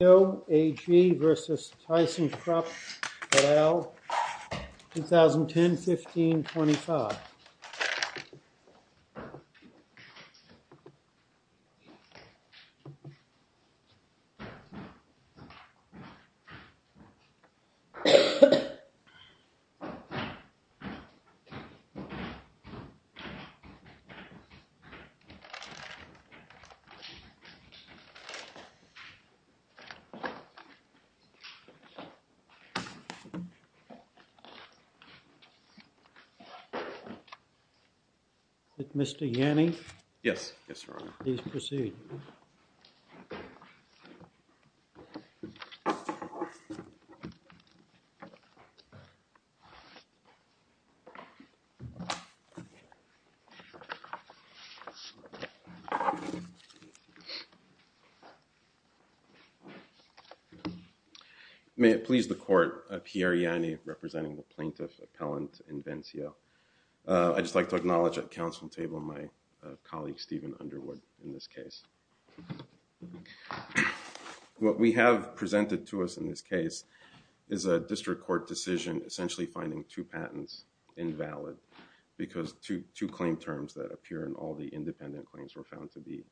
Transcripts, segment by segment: THYSSENKRUPP et al. 2010, 15, 25 Mr. Yanni? Yes, Your Honor. Please proceed. May it please the Court, Pierre Yanni representing the Plaintiff Appellant Invencio. I'd just like to acknowledge at the Council table my colleague Stephen Underwood in this case. What we have presented to us in this case is a district court decision essentially finding two patents invalid because two claim terms that appear in all the independent claims were found to be,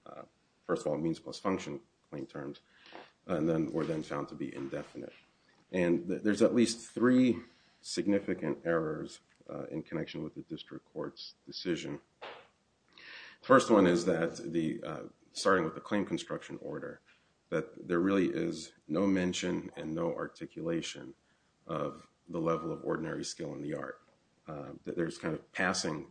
first of all, patents plus function claim terms were then found to be indefinite. And there's at least three significant errors in connection with the district court's decision. The first one is that starting with the claim construction order, that there really is no mention and no articulation of the level of ordinary skill in the art. There's kind of passing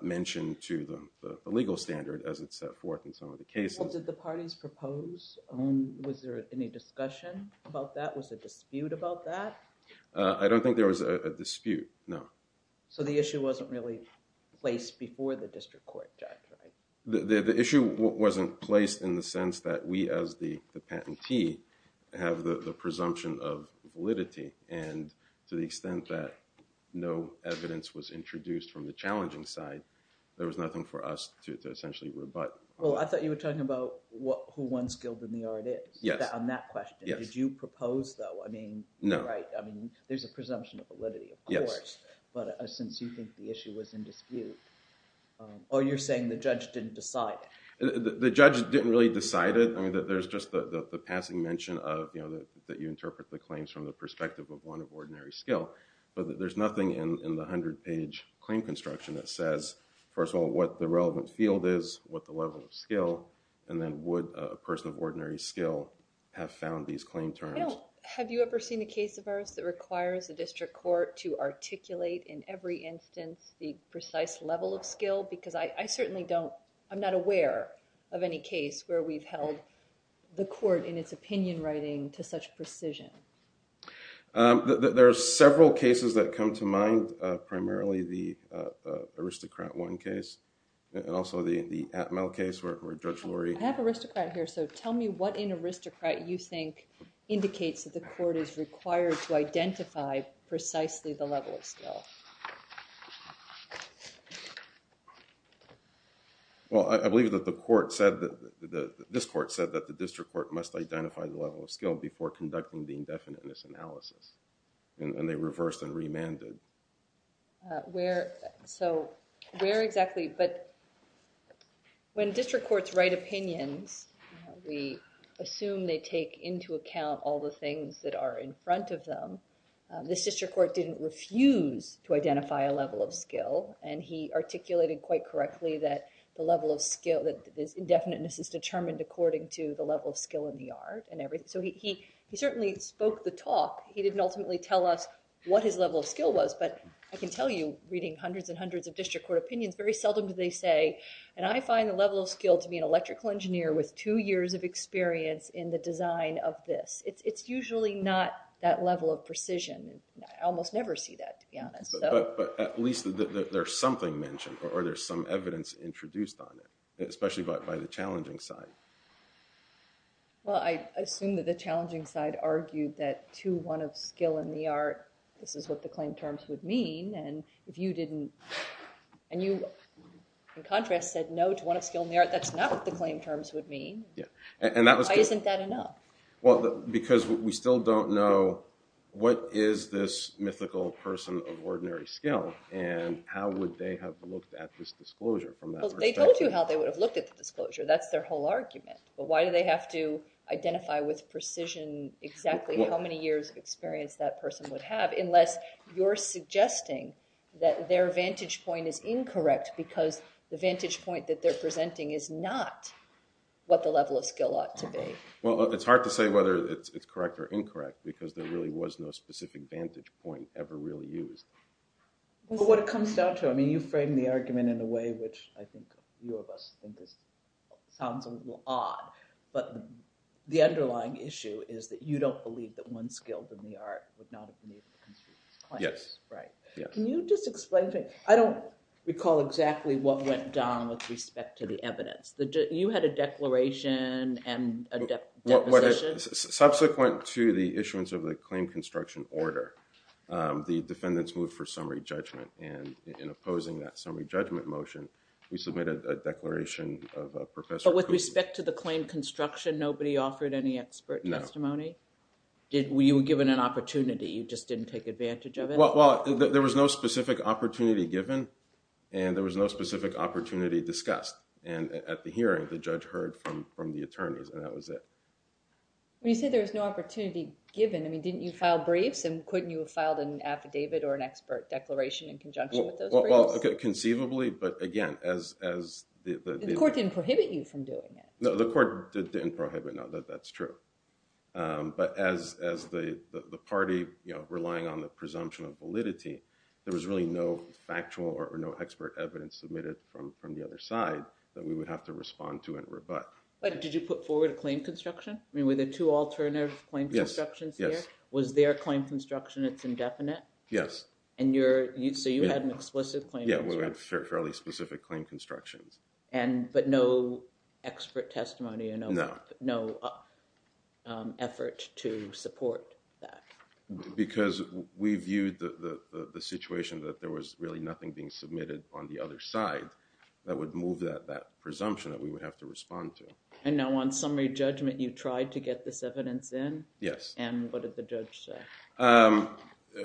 mention to the legal standard as it's set forth in some of the cases. Did the parties propose? Was there any discussion about that? Was there a dispute about that? I don't think there was a dispute, no. So the issue wasn't really placed before the district court judge, right? The issue wasn't placed in the sense that we as the patentee have the presumption of validity. And to the extent that no evidence was introduced from the challenging side, there was nothing for us to essentially rebut. Well, I thought you were talking about who one skilled in the art is on that question. Did you propose, though? No. There's a presumption of validity, of course, but since you think the issue was in dispute. Or you're saying the judge didn't decide it? The judge didn't really decide it. There's just the passing mention that you interpret the claims from the perspective of one of ordinary skill. But there's nothing in the 100-page claim construction that says, first of all, what the relevant field is, what the level of skill, and then would a person of ordinary skill have found these claim terms? Have you ever seen a case of ours that requires the district court to articulate in every instance the precise level of skill? Because I certainly don't, I'm not aware of any case where we've held the court in its opinion writing to such precision. There are several cases that come to mind, primarily the Aristocrat I case and also the Atmel case where Judge Lurie. I have Aristocrat here, so tell me what in Aristocrat you think indicates that the court is required to identify precisely the level of skill. Well, I believe that the court said that, this court said that the district court must identify the level of skill before conducting the indefiniteness analysis. And they reversed and remanded. Where, so where exactly, but when district courts write opinions, we assume they take into account all the things that are in front of them. This district court didn't refuse to identify a level of skill, and he articulated quite correctly that the level of skill, that this indefiniteness is determined according to the level of skill in the art and everything. So he certainly spoke the talk. He didn't ultimately tell us what his level of skill was, but I can tell you reading hundreds and hundreds of district court opinions, very seldom do they say, and I find the level of skill to be an electrical engineer with two years of experience in the design of this. It's usually not that level of precision. I almost never see that, to be honest. But at least there's something mentioned, or there's some evidence introduced on it, especially by the challenging side. Well, I assume that the challenging side argued that to one of skill in the art, this is what the claim terms would mean. And if you didn't, and you, in contrast, said no to one of skill in the art, that's not what the claim terms would mean. And that was good. Why isn't that enough? Well, because we still don't know what is this mythical person of ordinary skill, and how would they have looked at this disclosure from that perspective? Well, they told you how they would have looked at the disclosure. That's their whole argument. But why do they have to identify with precision exactly how many years of experience that person would have, unless you're suggesting that their vantage point is incorrect because the vantage point that they're presenting is not what the level of skill ought to be. Well, it's hard to say whether it's correct or incorrect, because there really was no specific vantage point ever really used. Well, what it comes down to, I mean, you frame the argument in a way which I think you of us think sounds a little odd. But the underlying issue is that you don't believe that one skilled in the art would not have been able to construe this claim. Yes. Right. Can you just explain to me? I don't recall exactly what went down with respect to the evidence. You had a declaration and a deposition? Subsequent to the issuance of the claim construction order, the defendants moved for summary judgment. And in opposing that summary judgment motion, we submitted a declaration of Professor Cooley. But with respect to the claim construction, nobody offered any expert testimony? No. You were given an opportunity. You just didn't take advantage of it? Well, there was no specific opportunity given, and there was no specific opportunity discussed. And at the hearing, the judge heard from the attorneys, and that was it. When you say there was no opportunity given, I mean, didn't you file briefs? And couldn't you have filed an affidavit or an expert declaration in conjunction with those briefs? Well, conceivably, but again, as the— The court didn't prohibit you from doing it? No, the court didn't prohibit, no. That's true. But as the party, you know, relying on the presumption of validity, there was really no factual or no expert evidence submitted from the other side that we would have to respond to and rebut. But did you put forward a claim construction? I mean, were there two alternative claim constructions there? Yes, yes. Was there a claim construction that's indefinite? Yes. So you had an explicit claim construction? Yeah, we had fairly specific claim constructions. But no expert testimony? No. No effort to support that? Because we viewed the situation that there was really nothing being submitted on the other side that would move that presumption that we would have to respond to. And now on summary judgment, you tried to get this evidence in? Yes. And what did the judge say?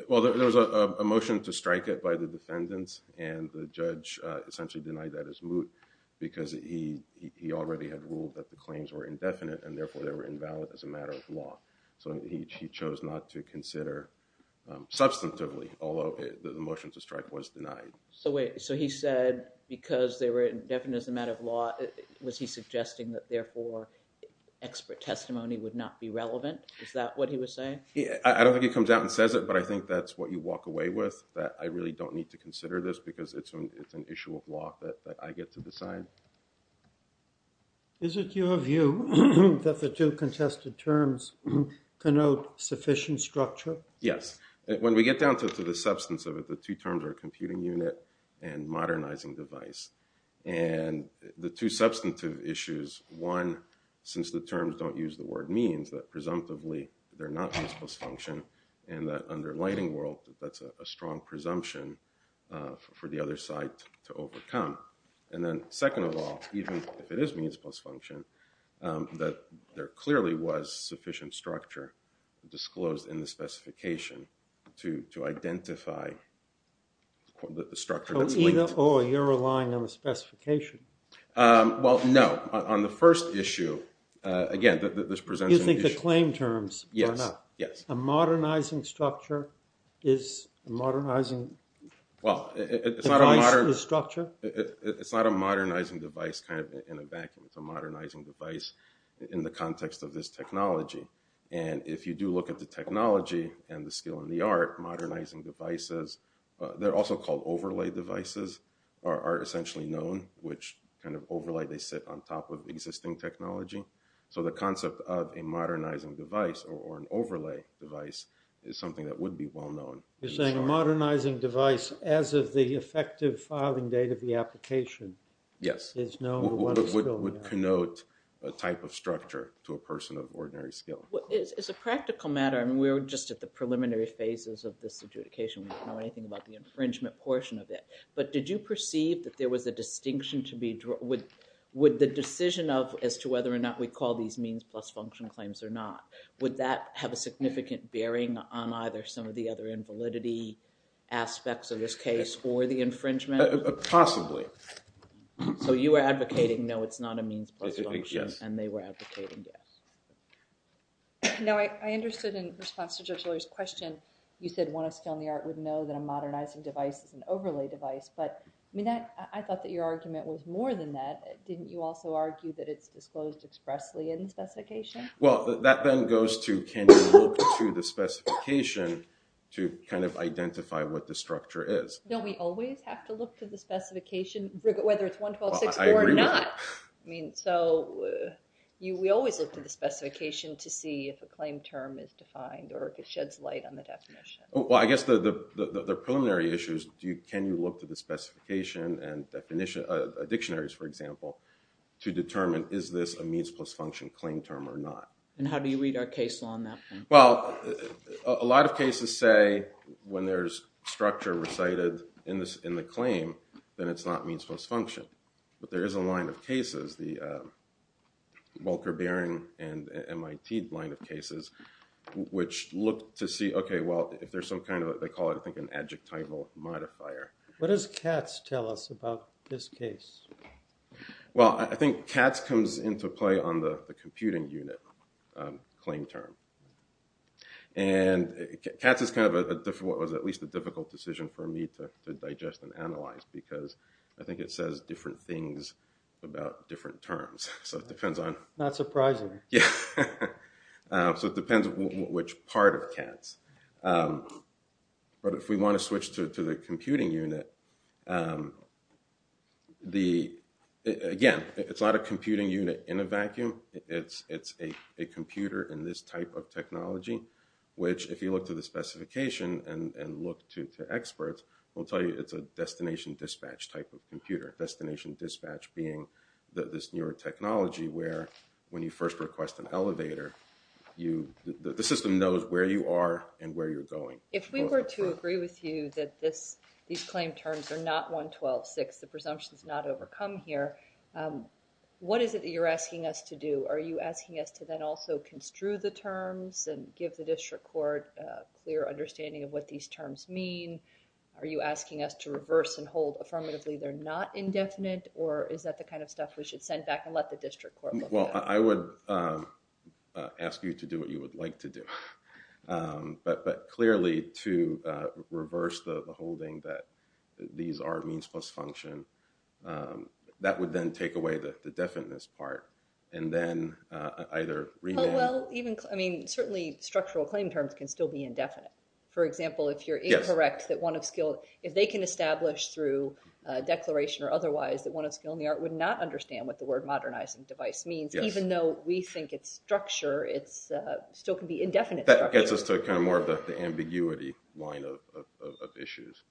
Well, there was a motion to strike it by the defendants, and the judge essentially denied that as moot because he already had ruled that the claims were indefinite, and therefore they were invalid as a matter of law. So he chose not to consider substantively, although the motion to strike was denied. So he said because they were indefinite as a matter of law, was he suggesting that therefore expert testimony would not be relevant? Is that what he was saying? I don't think he comes out and says it, but I think that's what you walk away with, that I really don't need to consider this because it's an issue of law that I get to decide. Is it your view that the two contested terms connote sufficient structure? Yes. When we get down to the substance of it, the two terms are computing unit and modernizing device. And the two substantive issues, one, since the terms don't use the word means, that presumptively they're not means plus function, and that under lighting world, that's a strong presumption for the other side to overcome. And then second of all, even if it is means plus function, that there clearly was sufficient structure disclosed in the specification to identify the structure that's linked. Oh, you're relying on the specification. Well, no. On the first issue, again, this presents an issue. You think the claim terms are enough? Yes. A modernizing structure is a modernizing device is structure? It's not a modernizing device kind of in a vacuum. It's a modernizing device in the context of this technology. And if you do look at the technology and the skill and the art, modernizing devices, they're also called overlay devices, are essentially known, which kind of overlay they sit on top of existing technology. So the concept of a modernizing device or an overlay device is something that would be well known. You're saying a modernizing device as of the effective filing date of the application? Yes. Would connote a type of structure to a person of ordinary skill? As a practical matter, we're just at the preliminary phases of this adjudication. We don't know anything about the infringement portion of it. But did you perceive that there was a distinction to be drawn? Would the decision as to whether or not we call these means plus function claims or not, would that have a significant bearing on either some of the other invalidity aspects of this case or the infringement? Possibly. So you were advocating no, it's not a means plus function, and they were advocating yes. No, I understood in response to Judge Lawyer's question, you said one of skill and the art would know that a modernizing device is an overlay device. But I thought that your argument was more than that. Didn't you also argue that it's disclosed expressly in the specification? Well, that then goes to can you look to the specification to kind of identify what the structure is? Don't we always have to look to the specification, whether it's 11264 or not? I agree with that. So we always look to the specification to see if a claim term is defined or if it sheds light on the definition. Well, I guess the preliminary issue is can you look to the specification and dictionaries, for example, to determine is this a means plus function claim term or not? And how do you read our case law on that? Well, a lot of cases say when there's structure recited in the claim, then it's not means plus function. But there is a line of cases, the Welker-Bering and MIT line of cases, which look to see, OK, well, if there's some kind of, they call it, I think, an adjectival modifier. What does CATS tell us about this case? Well, I think CATS comes into play on the computing unit claim term. And CATS is kind of what was at least a difficult decision for me to digest and analyze, because I think it says different things about different terms. Not surprising. Yeah. So it depends which part of CATS. But if we want to switch to the computing unit, again, it's not a computing unit in a vacuum. It's a computer in this type of technology, which if you look to the specification and look to experts, will tell you it's a destination dispatch type of computer. Destination dispatch being this newer technology where when you first request an elevator, the system knows where you are and where you're going. If we were to agree with you that these claim terms are not 112.6, the presumption is not overcome here, what is it that you're asking us to do? Are you asking us to then also construe the terms and give the district court a clear understanding of what these terms mean? Are you asking us to reverse and hold affirmatively they're not indefinite? Or is that the kind of stuff we should send back and let the district court look at? Well, I would ask you to do what you would like to do. But clearly to reverse the holding that these are means plus function, that would then take away the definiteness part. And then either rename. Well, even, I mean, certainly structural claim terms can still be indefinite. For example, if you're incorrect, if they can establish through declaration or otherwise that one of skill in the art would not understand what the word modernizing device means, even though we think it's structure, it still can be indefinite structure. That gets us to kind of more of the ambiguity line of issues.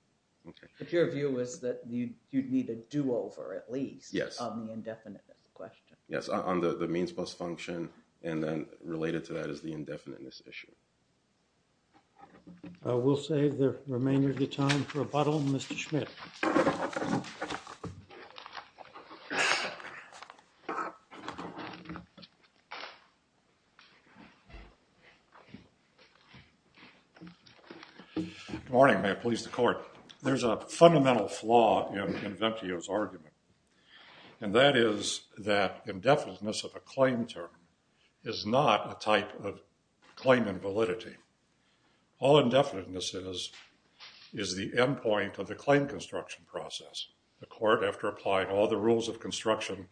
But your view is that you'd need a do-over at least on the indefiniteness question. Yes, on the means plus function. And then related to that is the indefiniteness issue. We'll save the remainder of the time for rebuttal. Mr. Schmidt. Morning, may it please the court. There's a fundamental flaw in Ventio's argument. And that is that indefiniteness of a claim term is not a type of claim in validity. All indefiniteness is is the end point of the claim construction process. The court, after applying all the rules of construction,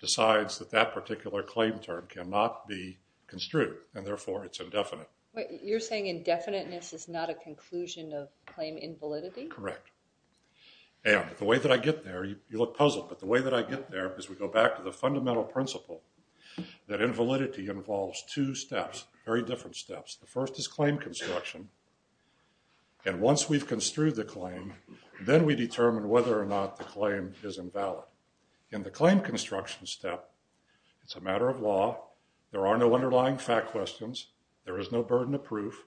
decides that that particular claim term cannot be construed. And therefore it's indefinite. You're saying indefiniteness is not a conclusion of claim in validity? Correct. And the way that I get there, you look puzzled, but the way that I get there is we go back to the fundamental principle that invalidity involves two steps, very different steps. The first is claim construction. And once we've construed the claim, then we determine whether or not the claim is invalid. In the claim construction step, it's a matter of law. There are no underlying fact questions. There is no burden of proof.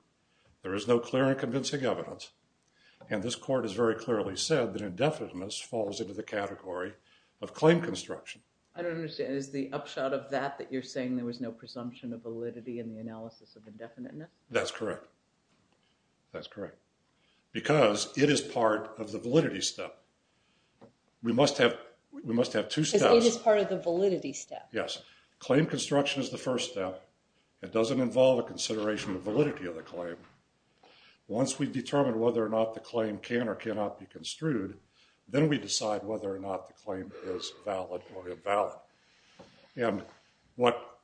There is no clear and convincing evidence. And this court has very clearly said that indefiniteness falls into the category of claim construction. I don't understand. Is the upshot of that that you're saying there was no presumption of validity in the analysis of indefiniteness? That's correct. That's correct. Because it is part of the validity step. We must have two steps. Because it is part of the validity step. Yes. Claim construction is the first step. It doesn't involve a consideration of validity of the claim. Once we determine whether or not the claim can or cannot be construed, then we decide whether or not the claim is valid or invalid. And what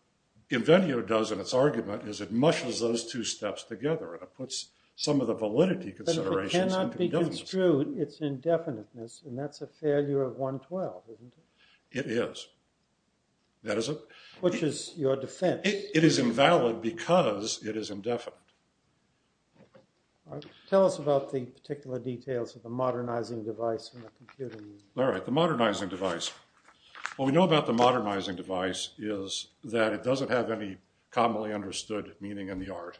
Invenio does in its argument is it mushes those two steps together and it puts some of the validity considerations into the evidence. But if it cannot be construed, it's indefiniteness. And that's a failure of 112, isn't it? It is. Which is your defense? It is invalid because it is indefinite. Tell us about the particular details of the modernizing device in the computer. All right. The modernizing device. What we know about the modernizing device is that it doesn't have any commonly understood meaning in the art.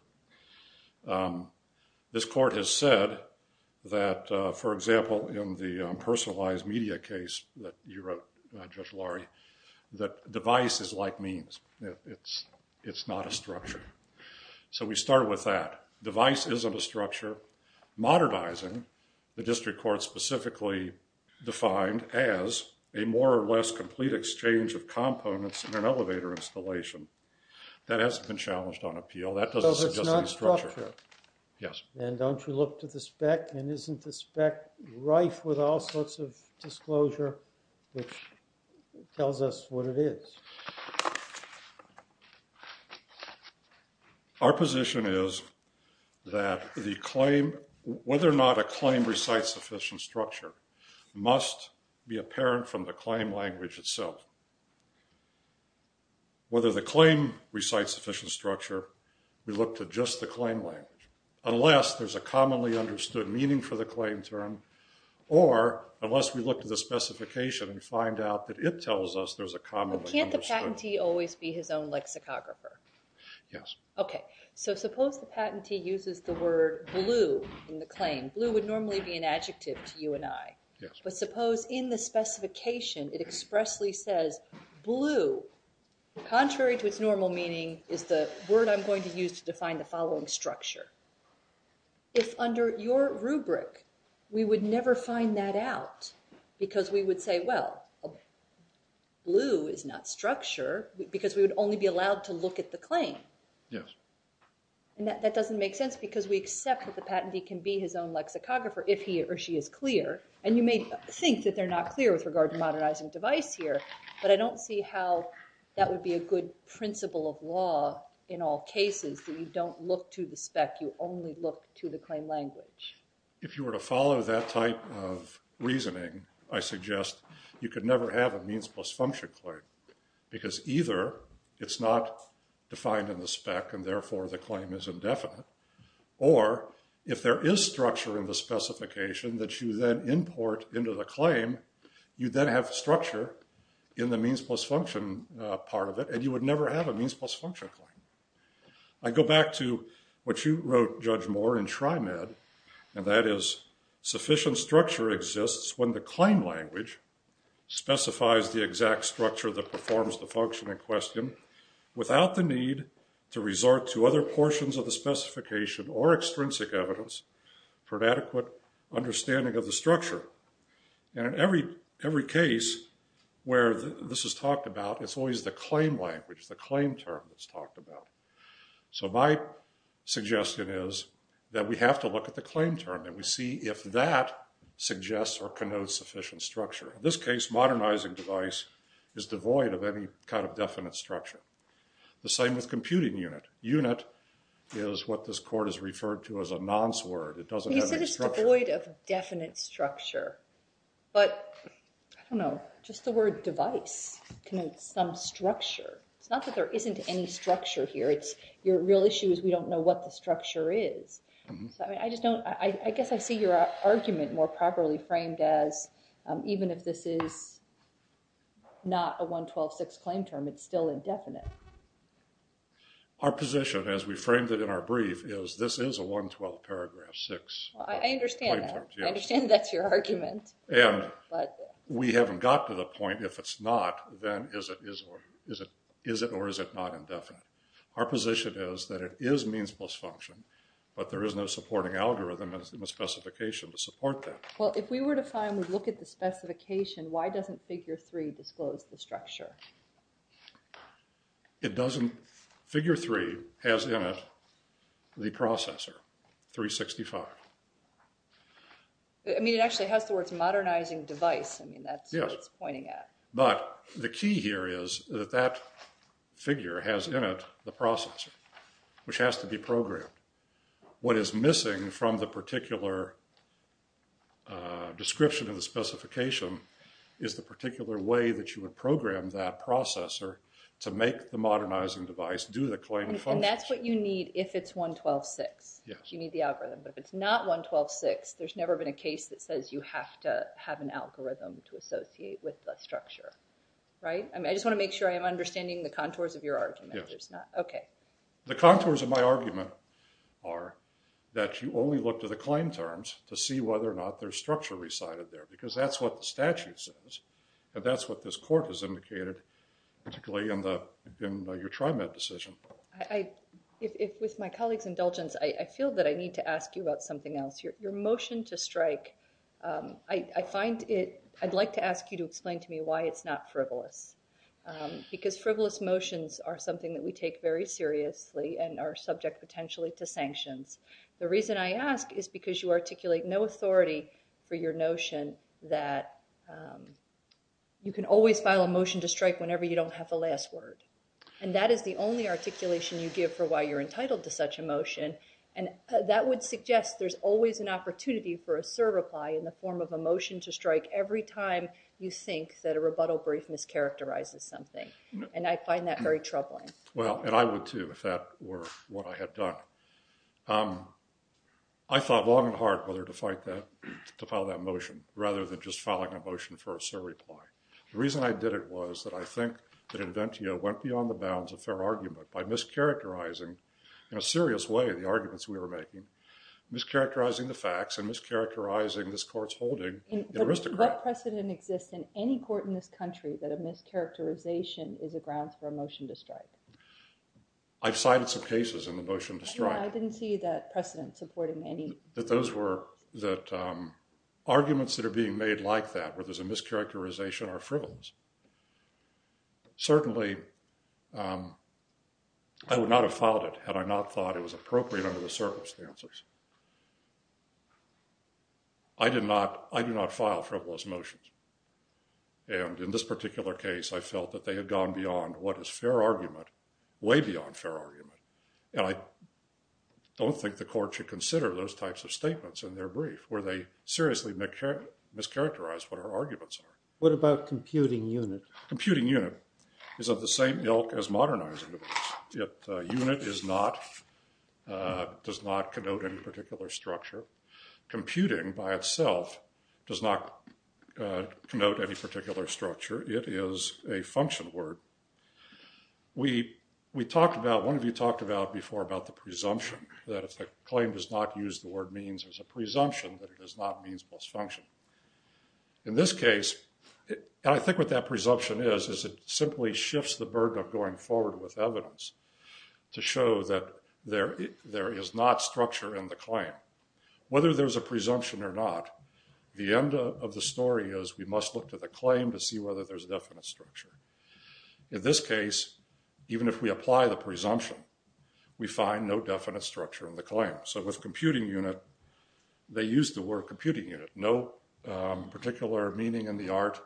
This court has said that, for example, in the personalized media case that you wrote, that device is like means. It's not a structure. So we start with that. Device isn't a structure. Modernizing, the district court specifically defined as a more or less complete exchange of components in an elevator installation. That hasn't been challenged on appeal. That doesn't suggest any structure. So it's not structure? Yes. And don't you look to the spec? And isn't the spec rife with all sorts of disclosure, which tells us what it is? Our position is that the claim, whether or not a claim recites sufficient structure, must be apparent from the claim language itself. Whether the claim recites sufficient structure, we look to just the claim language, unless there's a commonly understood meaning for the claim term, or unless we look to the specification and find out that it tells us there's a commonly understood. Can't the patentee always be his own lexicographer? Yes. Okay. So suppose the patentee uses the word blue in the claim. Blue would normally be an adjective to you and I. Yes. But suppose in the specification it expressly says blue, contrary to its normal meaning, is the word I'm going to use to define the following structure. If under your rubric we would never find that out because we would say, well, blue is not structure because we would only be allowed to look at the claim. Yes. And that doesn't make sense because we accept that the patentee can be his own lexicographer if he or she is clear, and you may think that they're not clear with regard to modernizing device here, but I don't see how that would be a good principle of law in all cases that you don't look to the spec, you only look to the claim language. If you were to follow that type of reasoning, I suggest you could never have a means plus function claim because either it's not defined in the spec and therefore the claim is indefinite, or if there is structure in the specification that you then import into the claim, you then have structure in the means plus function part of it and you would never have a means plus function claim. I go back to what you wrote, Judge Moore, in Trimed, and that is sufficient structure exists when the claim language specifies the exact structure that performs the function in question without the need to resort to other portions of the specification or extrinsic evidence for an adequate understanding of the structure. And in every case where this is talked about, it's always the claim language, the claim term that's talked about. So my suggestion is that we have to look at the claim term and we see if that suggests or connotes sufficient structure. In this case, modernizing device is devoid of any kind of definite structure. The same with computing unit. Unit is what this court has referred to as a nonce word. It doesn't have any structure. You said it's devoid of definite structure, but I don't know. Just the word device connotes some structure. It's not that there isn't any structure here. Your real issue is we don't know what the structure is. I guess I see your argument more properly framed as even if this is not a 112.6 claim term, it's still indefinite. Our position as we framed it in our brief is this is a 112.6 claim term. I understand that. I understand that's your argument. And we haven't got to the point if it's not, then is it or is it not indefinite? Our position is that it is means plus function, but there is no supporting algorithm in the specification to support that. Well, if we were to find and look at the specification, why doesn't figure three disclose the structure? It doesn't. Figure three has in it the processor, 365. I mean, it actually has the words modernizing device. I mean, that's what it's pointing at. But the key here is that that figure has in it the processor, which has to be programmed. What is missing from the particular description of the specification is the particular way that you would program that processor to make the modernizing device do the claim function. And that's what you need if it's 112.6. You need the algorithm. But if it's not 112.6, there's never been a case that says you have to have an algorithm to associate with the structure. Right? I just want to make sure I am understanding the contours of your argument. Yes. Okay. The contours of my argument are that you only look to the claim terms to see whether or not there's structure recited there, because that's what the statute says. And that's what this court has indicated, particularly in your TriMet decision. With my colleague's indulgence, I feel that I need to ask you about something else. Your motion to strike, I'd like to ask you to explain to me why it's not frivolous. Because frivolous motions are something that we take very seriously and are subject potentially to sanctions. The reason I ask is because you articulate no authority for your notion that you can always file a motion to strike whenever you don't have the last word. And that is the only articulation you give for why you're entitled to such a motion. And that would suggest there's always an opportunity for a surreply in the form of a motion to strike every time you think that a rebuttal brief mischaracterizes something. And I find that very troubling. Well, and I would, too, if that were what I had done. I thought long and hard whether to file that motion rather than just filing a motion for a surreply. The reason I did it was that I think that Inventio went beyond the bounds of fair argument by mischaracterizing in a serious way the arguments we were making, mischaracterizing the facts and mischaracterizing this court's holding in aristocrat. What precedent exists in any court in this country that a mischaracterization is a grounds for a motion to strike? I've cited some cases in the motion to strike. I didn't see that precedent supporting any. That those were, that arguments that are being made like that where there's a mischaracterization are frivolous. Certainly, I would not have filed it had I not thought it was appropriate under the circumstances. I did not, I do not file frivolous motions. And in this particular case, I felt that they had gone beyond what is fair argument, way beyond fair argument. And I don't think the court should consider those types of statements in their brief where they seriously mischaracterize what our arguments are. What about computing unit? Computing unit is of the same ilk as modernizing it. Unit is not, does not connote any particular structure. Computing by itself does not connote any particular structure. It is a function word. We talked about, one of you talked about before about the presumption that if a claim does not use the word means as a presumption that it does not means plus function. In this case, and I think what that presumption is, is it simply shifts the burden of going forward with evidence to show that there is not structure in the claim. Whether there's a presumption or not, the end of the story is we must look to the claim to see whether there's definite structure. In this case, even if we apply the presumption, we find no definite structure in the claim. So with computing unit, they used the word computing unit. No particular meaning in the art.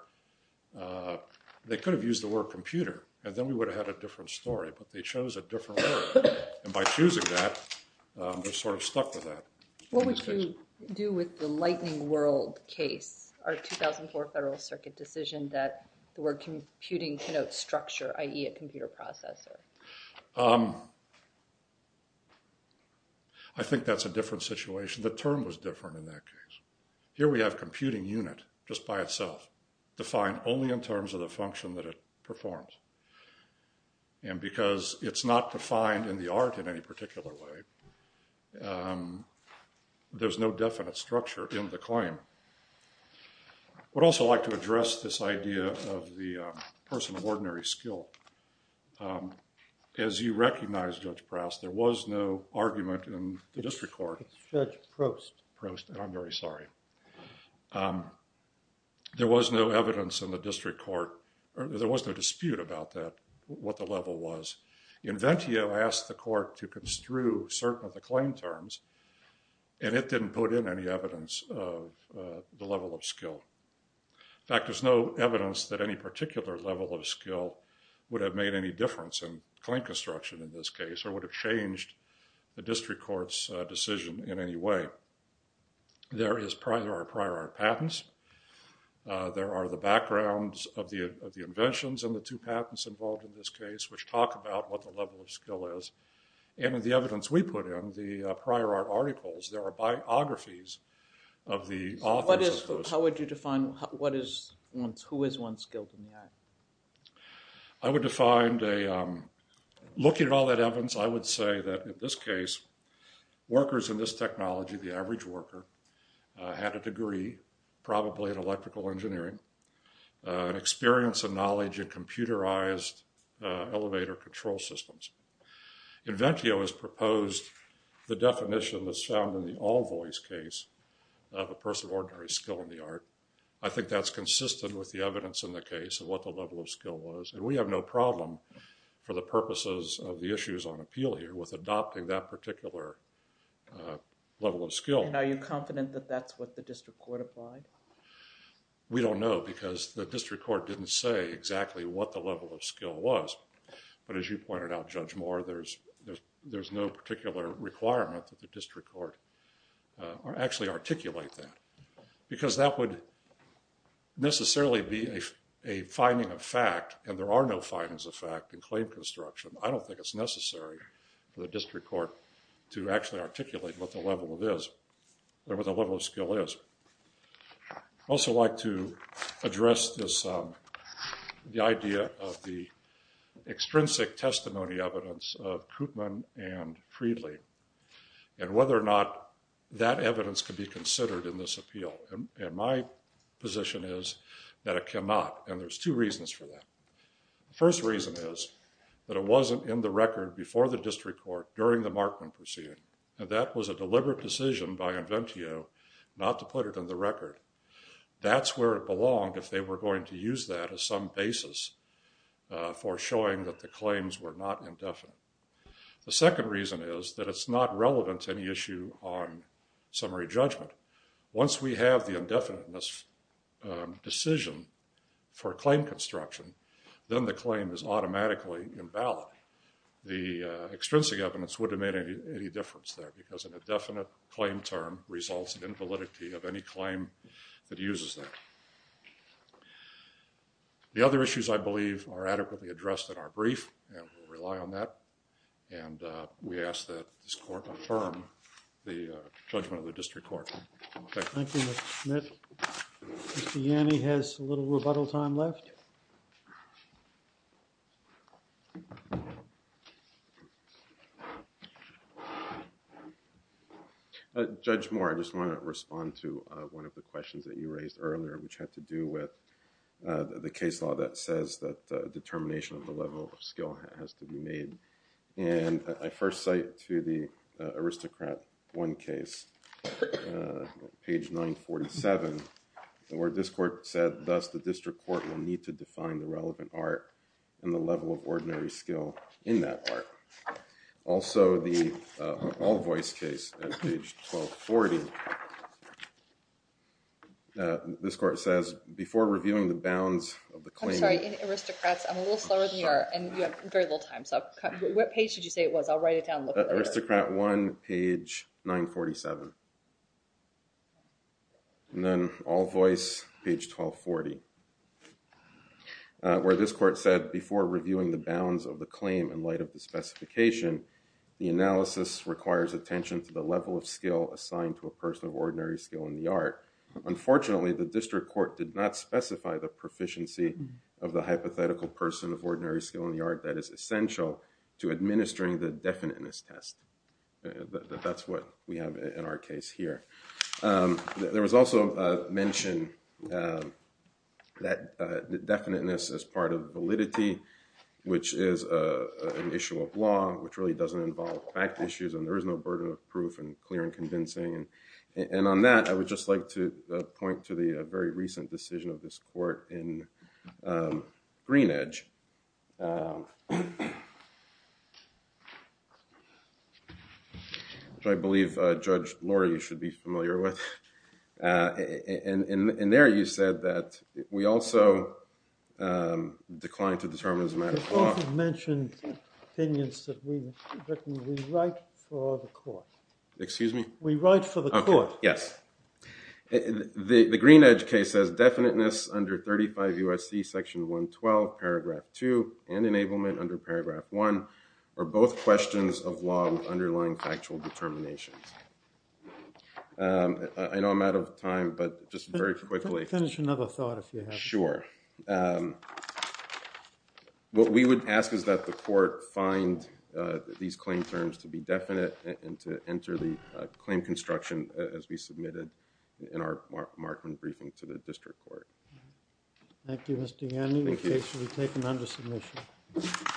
They could have used the word computer, and then we would have had a different story, but they chose a different word. And by choosing that, they're sort of stuck with that. What would you do with the lightning world case, our 2004 Federal Circuit decision that the word computing connotes structure, i.e. a computer processor? I think that's a different situation. The term was different in that case. Here we have computing unit just by itself, defined only in terms of the function that it performs. And because it's not defined in the art in any particular way, there's no definite structure in the claim. I would also like to address this idea of the person of ordinary skill. As you recognize, Judge Proust, there was no argument in the district court. It's Judge Proust. Proust, and I'm very sorry. There was no evidence in the district court. There was no dispute about that, what the level was. Inventio asked the court to construe certain of the claim terms, and it didn't put in any evidence of the level of skill. In fact, there's no evidence that any particular level of skill would have made any difference in claim construction in this case or would have changed the district court's decision in any way. There are prior art patents. There are the backgrounds of the inventions and the two patents involved in this case, which talk about what the level of skill is. And in the evidence we put in, the prior art articles, there are biographies of the authors of those. So how would you define who is once skilled in the art? I would define, looking at all that evidence, I would say that in this case, workers in this technology, the average worker, had a degree probably in electrical engineering, an experience and knowledge in computerized elevator control systems. Inventio has proposed the definition that's found in the all-voice case of a person of ordinary skill in the art. I think that's consistent with the evidence in the case of what the level of skill was. And we have no problem for the purposes of the issues on appeal here with adopting that particular level of skill. And are you confident that that's what the district court applied? We don't know because the district court didn't say exactly what the level of skill was. But as you pointed out, Judge Moore, there's no particular requirement that the district court actually articulate that because that would necessarily be a finding of fact, and there are no findings of fact in claim construction. I don't think it's necessary for the district court to actually articulate what the level of skill is. I'd also like to address the idea of the extrinsic testimony evidence of Koopman and Freedly and whether or not that evidence could be considered in this appeal. And my position is that it cannot, and there's two reasons for that. The first reason is that it wasn't in the record before the district court during the Markman proceeding. That was a deliberate decision by Inventio not to put it in the record. That's where it belonged if they were going to use that as some basis for showing that the claims were not indefinite. The second reason is that it's not relevant to any issue on summary judgment. Once we have the indefiniteness decision for claim construction, then the claim is automatically invalid. The extrinsic evidence wouldn't have made any difference there because an indefinite claim term results in invalidity of any claim that uses that. The other issues, I believe, are adequately addressed in our brief and we'll rely on that. And we ask that this court affirm the judgment of the district court. Thank you. Thank you, Mr. Smith. Mr. Yanni has a little rebuttal time left. I'll just say a few things that you raised earlier, which had to do with the case law that says that determination of the level of skill has to be made. And I first cite to the aristocrat one case, page 947, the word this court said, thus the district court will need to define the relevant art and the level of ordinary skill in that art. Also, the all voice case at page 1240, this court says before reviewing the bounds of the claim. I'm sorry, in aristocrats, I'm a little slower than you are and you have very little time. So what page did you say it was? I'll write it down. Aristocrat one, page 947. And then all voice, page 1240, where this court said before reviewing the bounds of the claim in light of the specification, the analysis requires attention to the level of skill assigned to a person of ordinary skill in the art. Unfortunately, the district court did not specify the proficiency of the hypothetical person of ordinary skill in the art that is essential to administering the definiteness test. That's what we have in our case here. There was also a mention that definiteness is part of validity, which is an issue of law, which really doesn't involve fact issues and there is no burden of proof and clear and convincing. And on that, I would just like to point to the very recent decision of this court in Greenidge. I believe Judge Laura, you should be familiar with. And there you said that we also declined to determine as a matter of law. The court had mentioned opinions that we write for the court. Excuse me? We write for the court. Okay, yes. The Greenidge case says definiteness under 35 U.S.C. Section 112, Paragraph 2 and enablement under Paragraph 1 are both questions of law with underlying factual determinations. I know I'm out of time, but just very quickly. Finish another thought if you have. Sure. What we would ask is that the court find these claim terms to be definite and to enter the claim construction as we submitted in our Markman briefing to the district court. Thank you, Mr. Yanni. We take them under submission.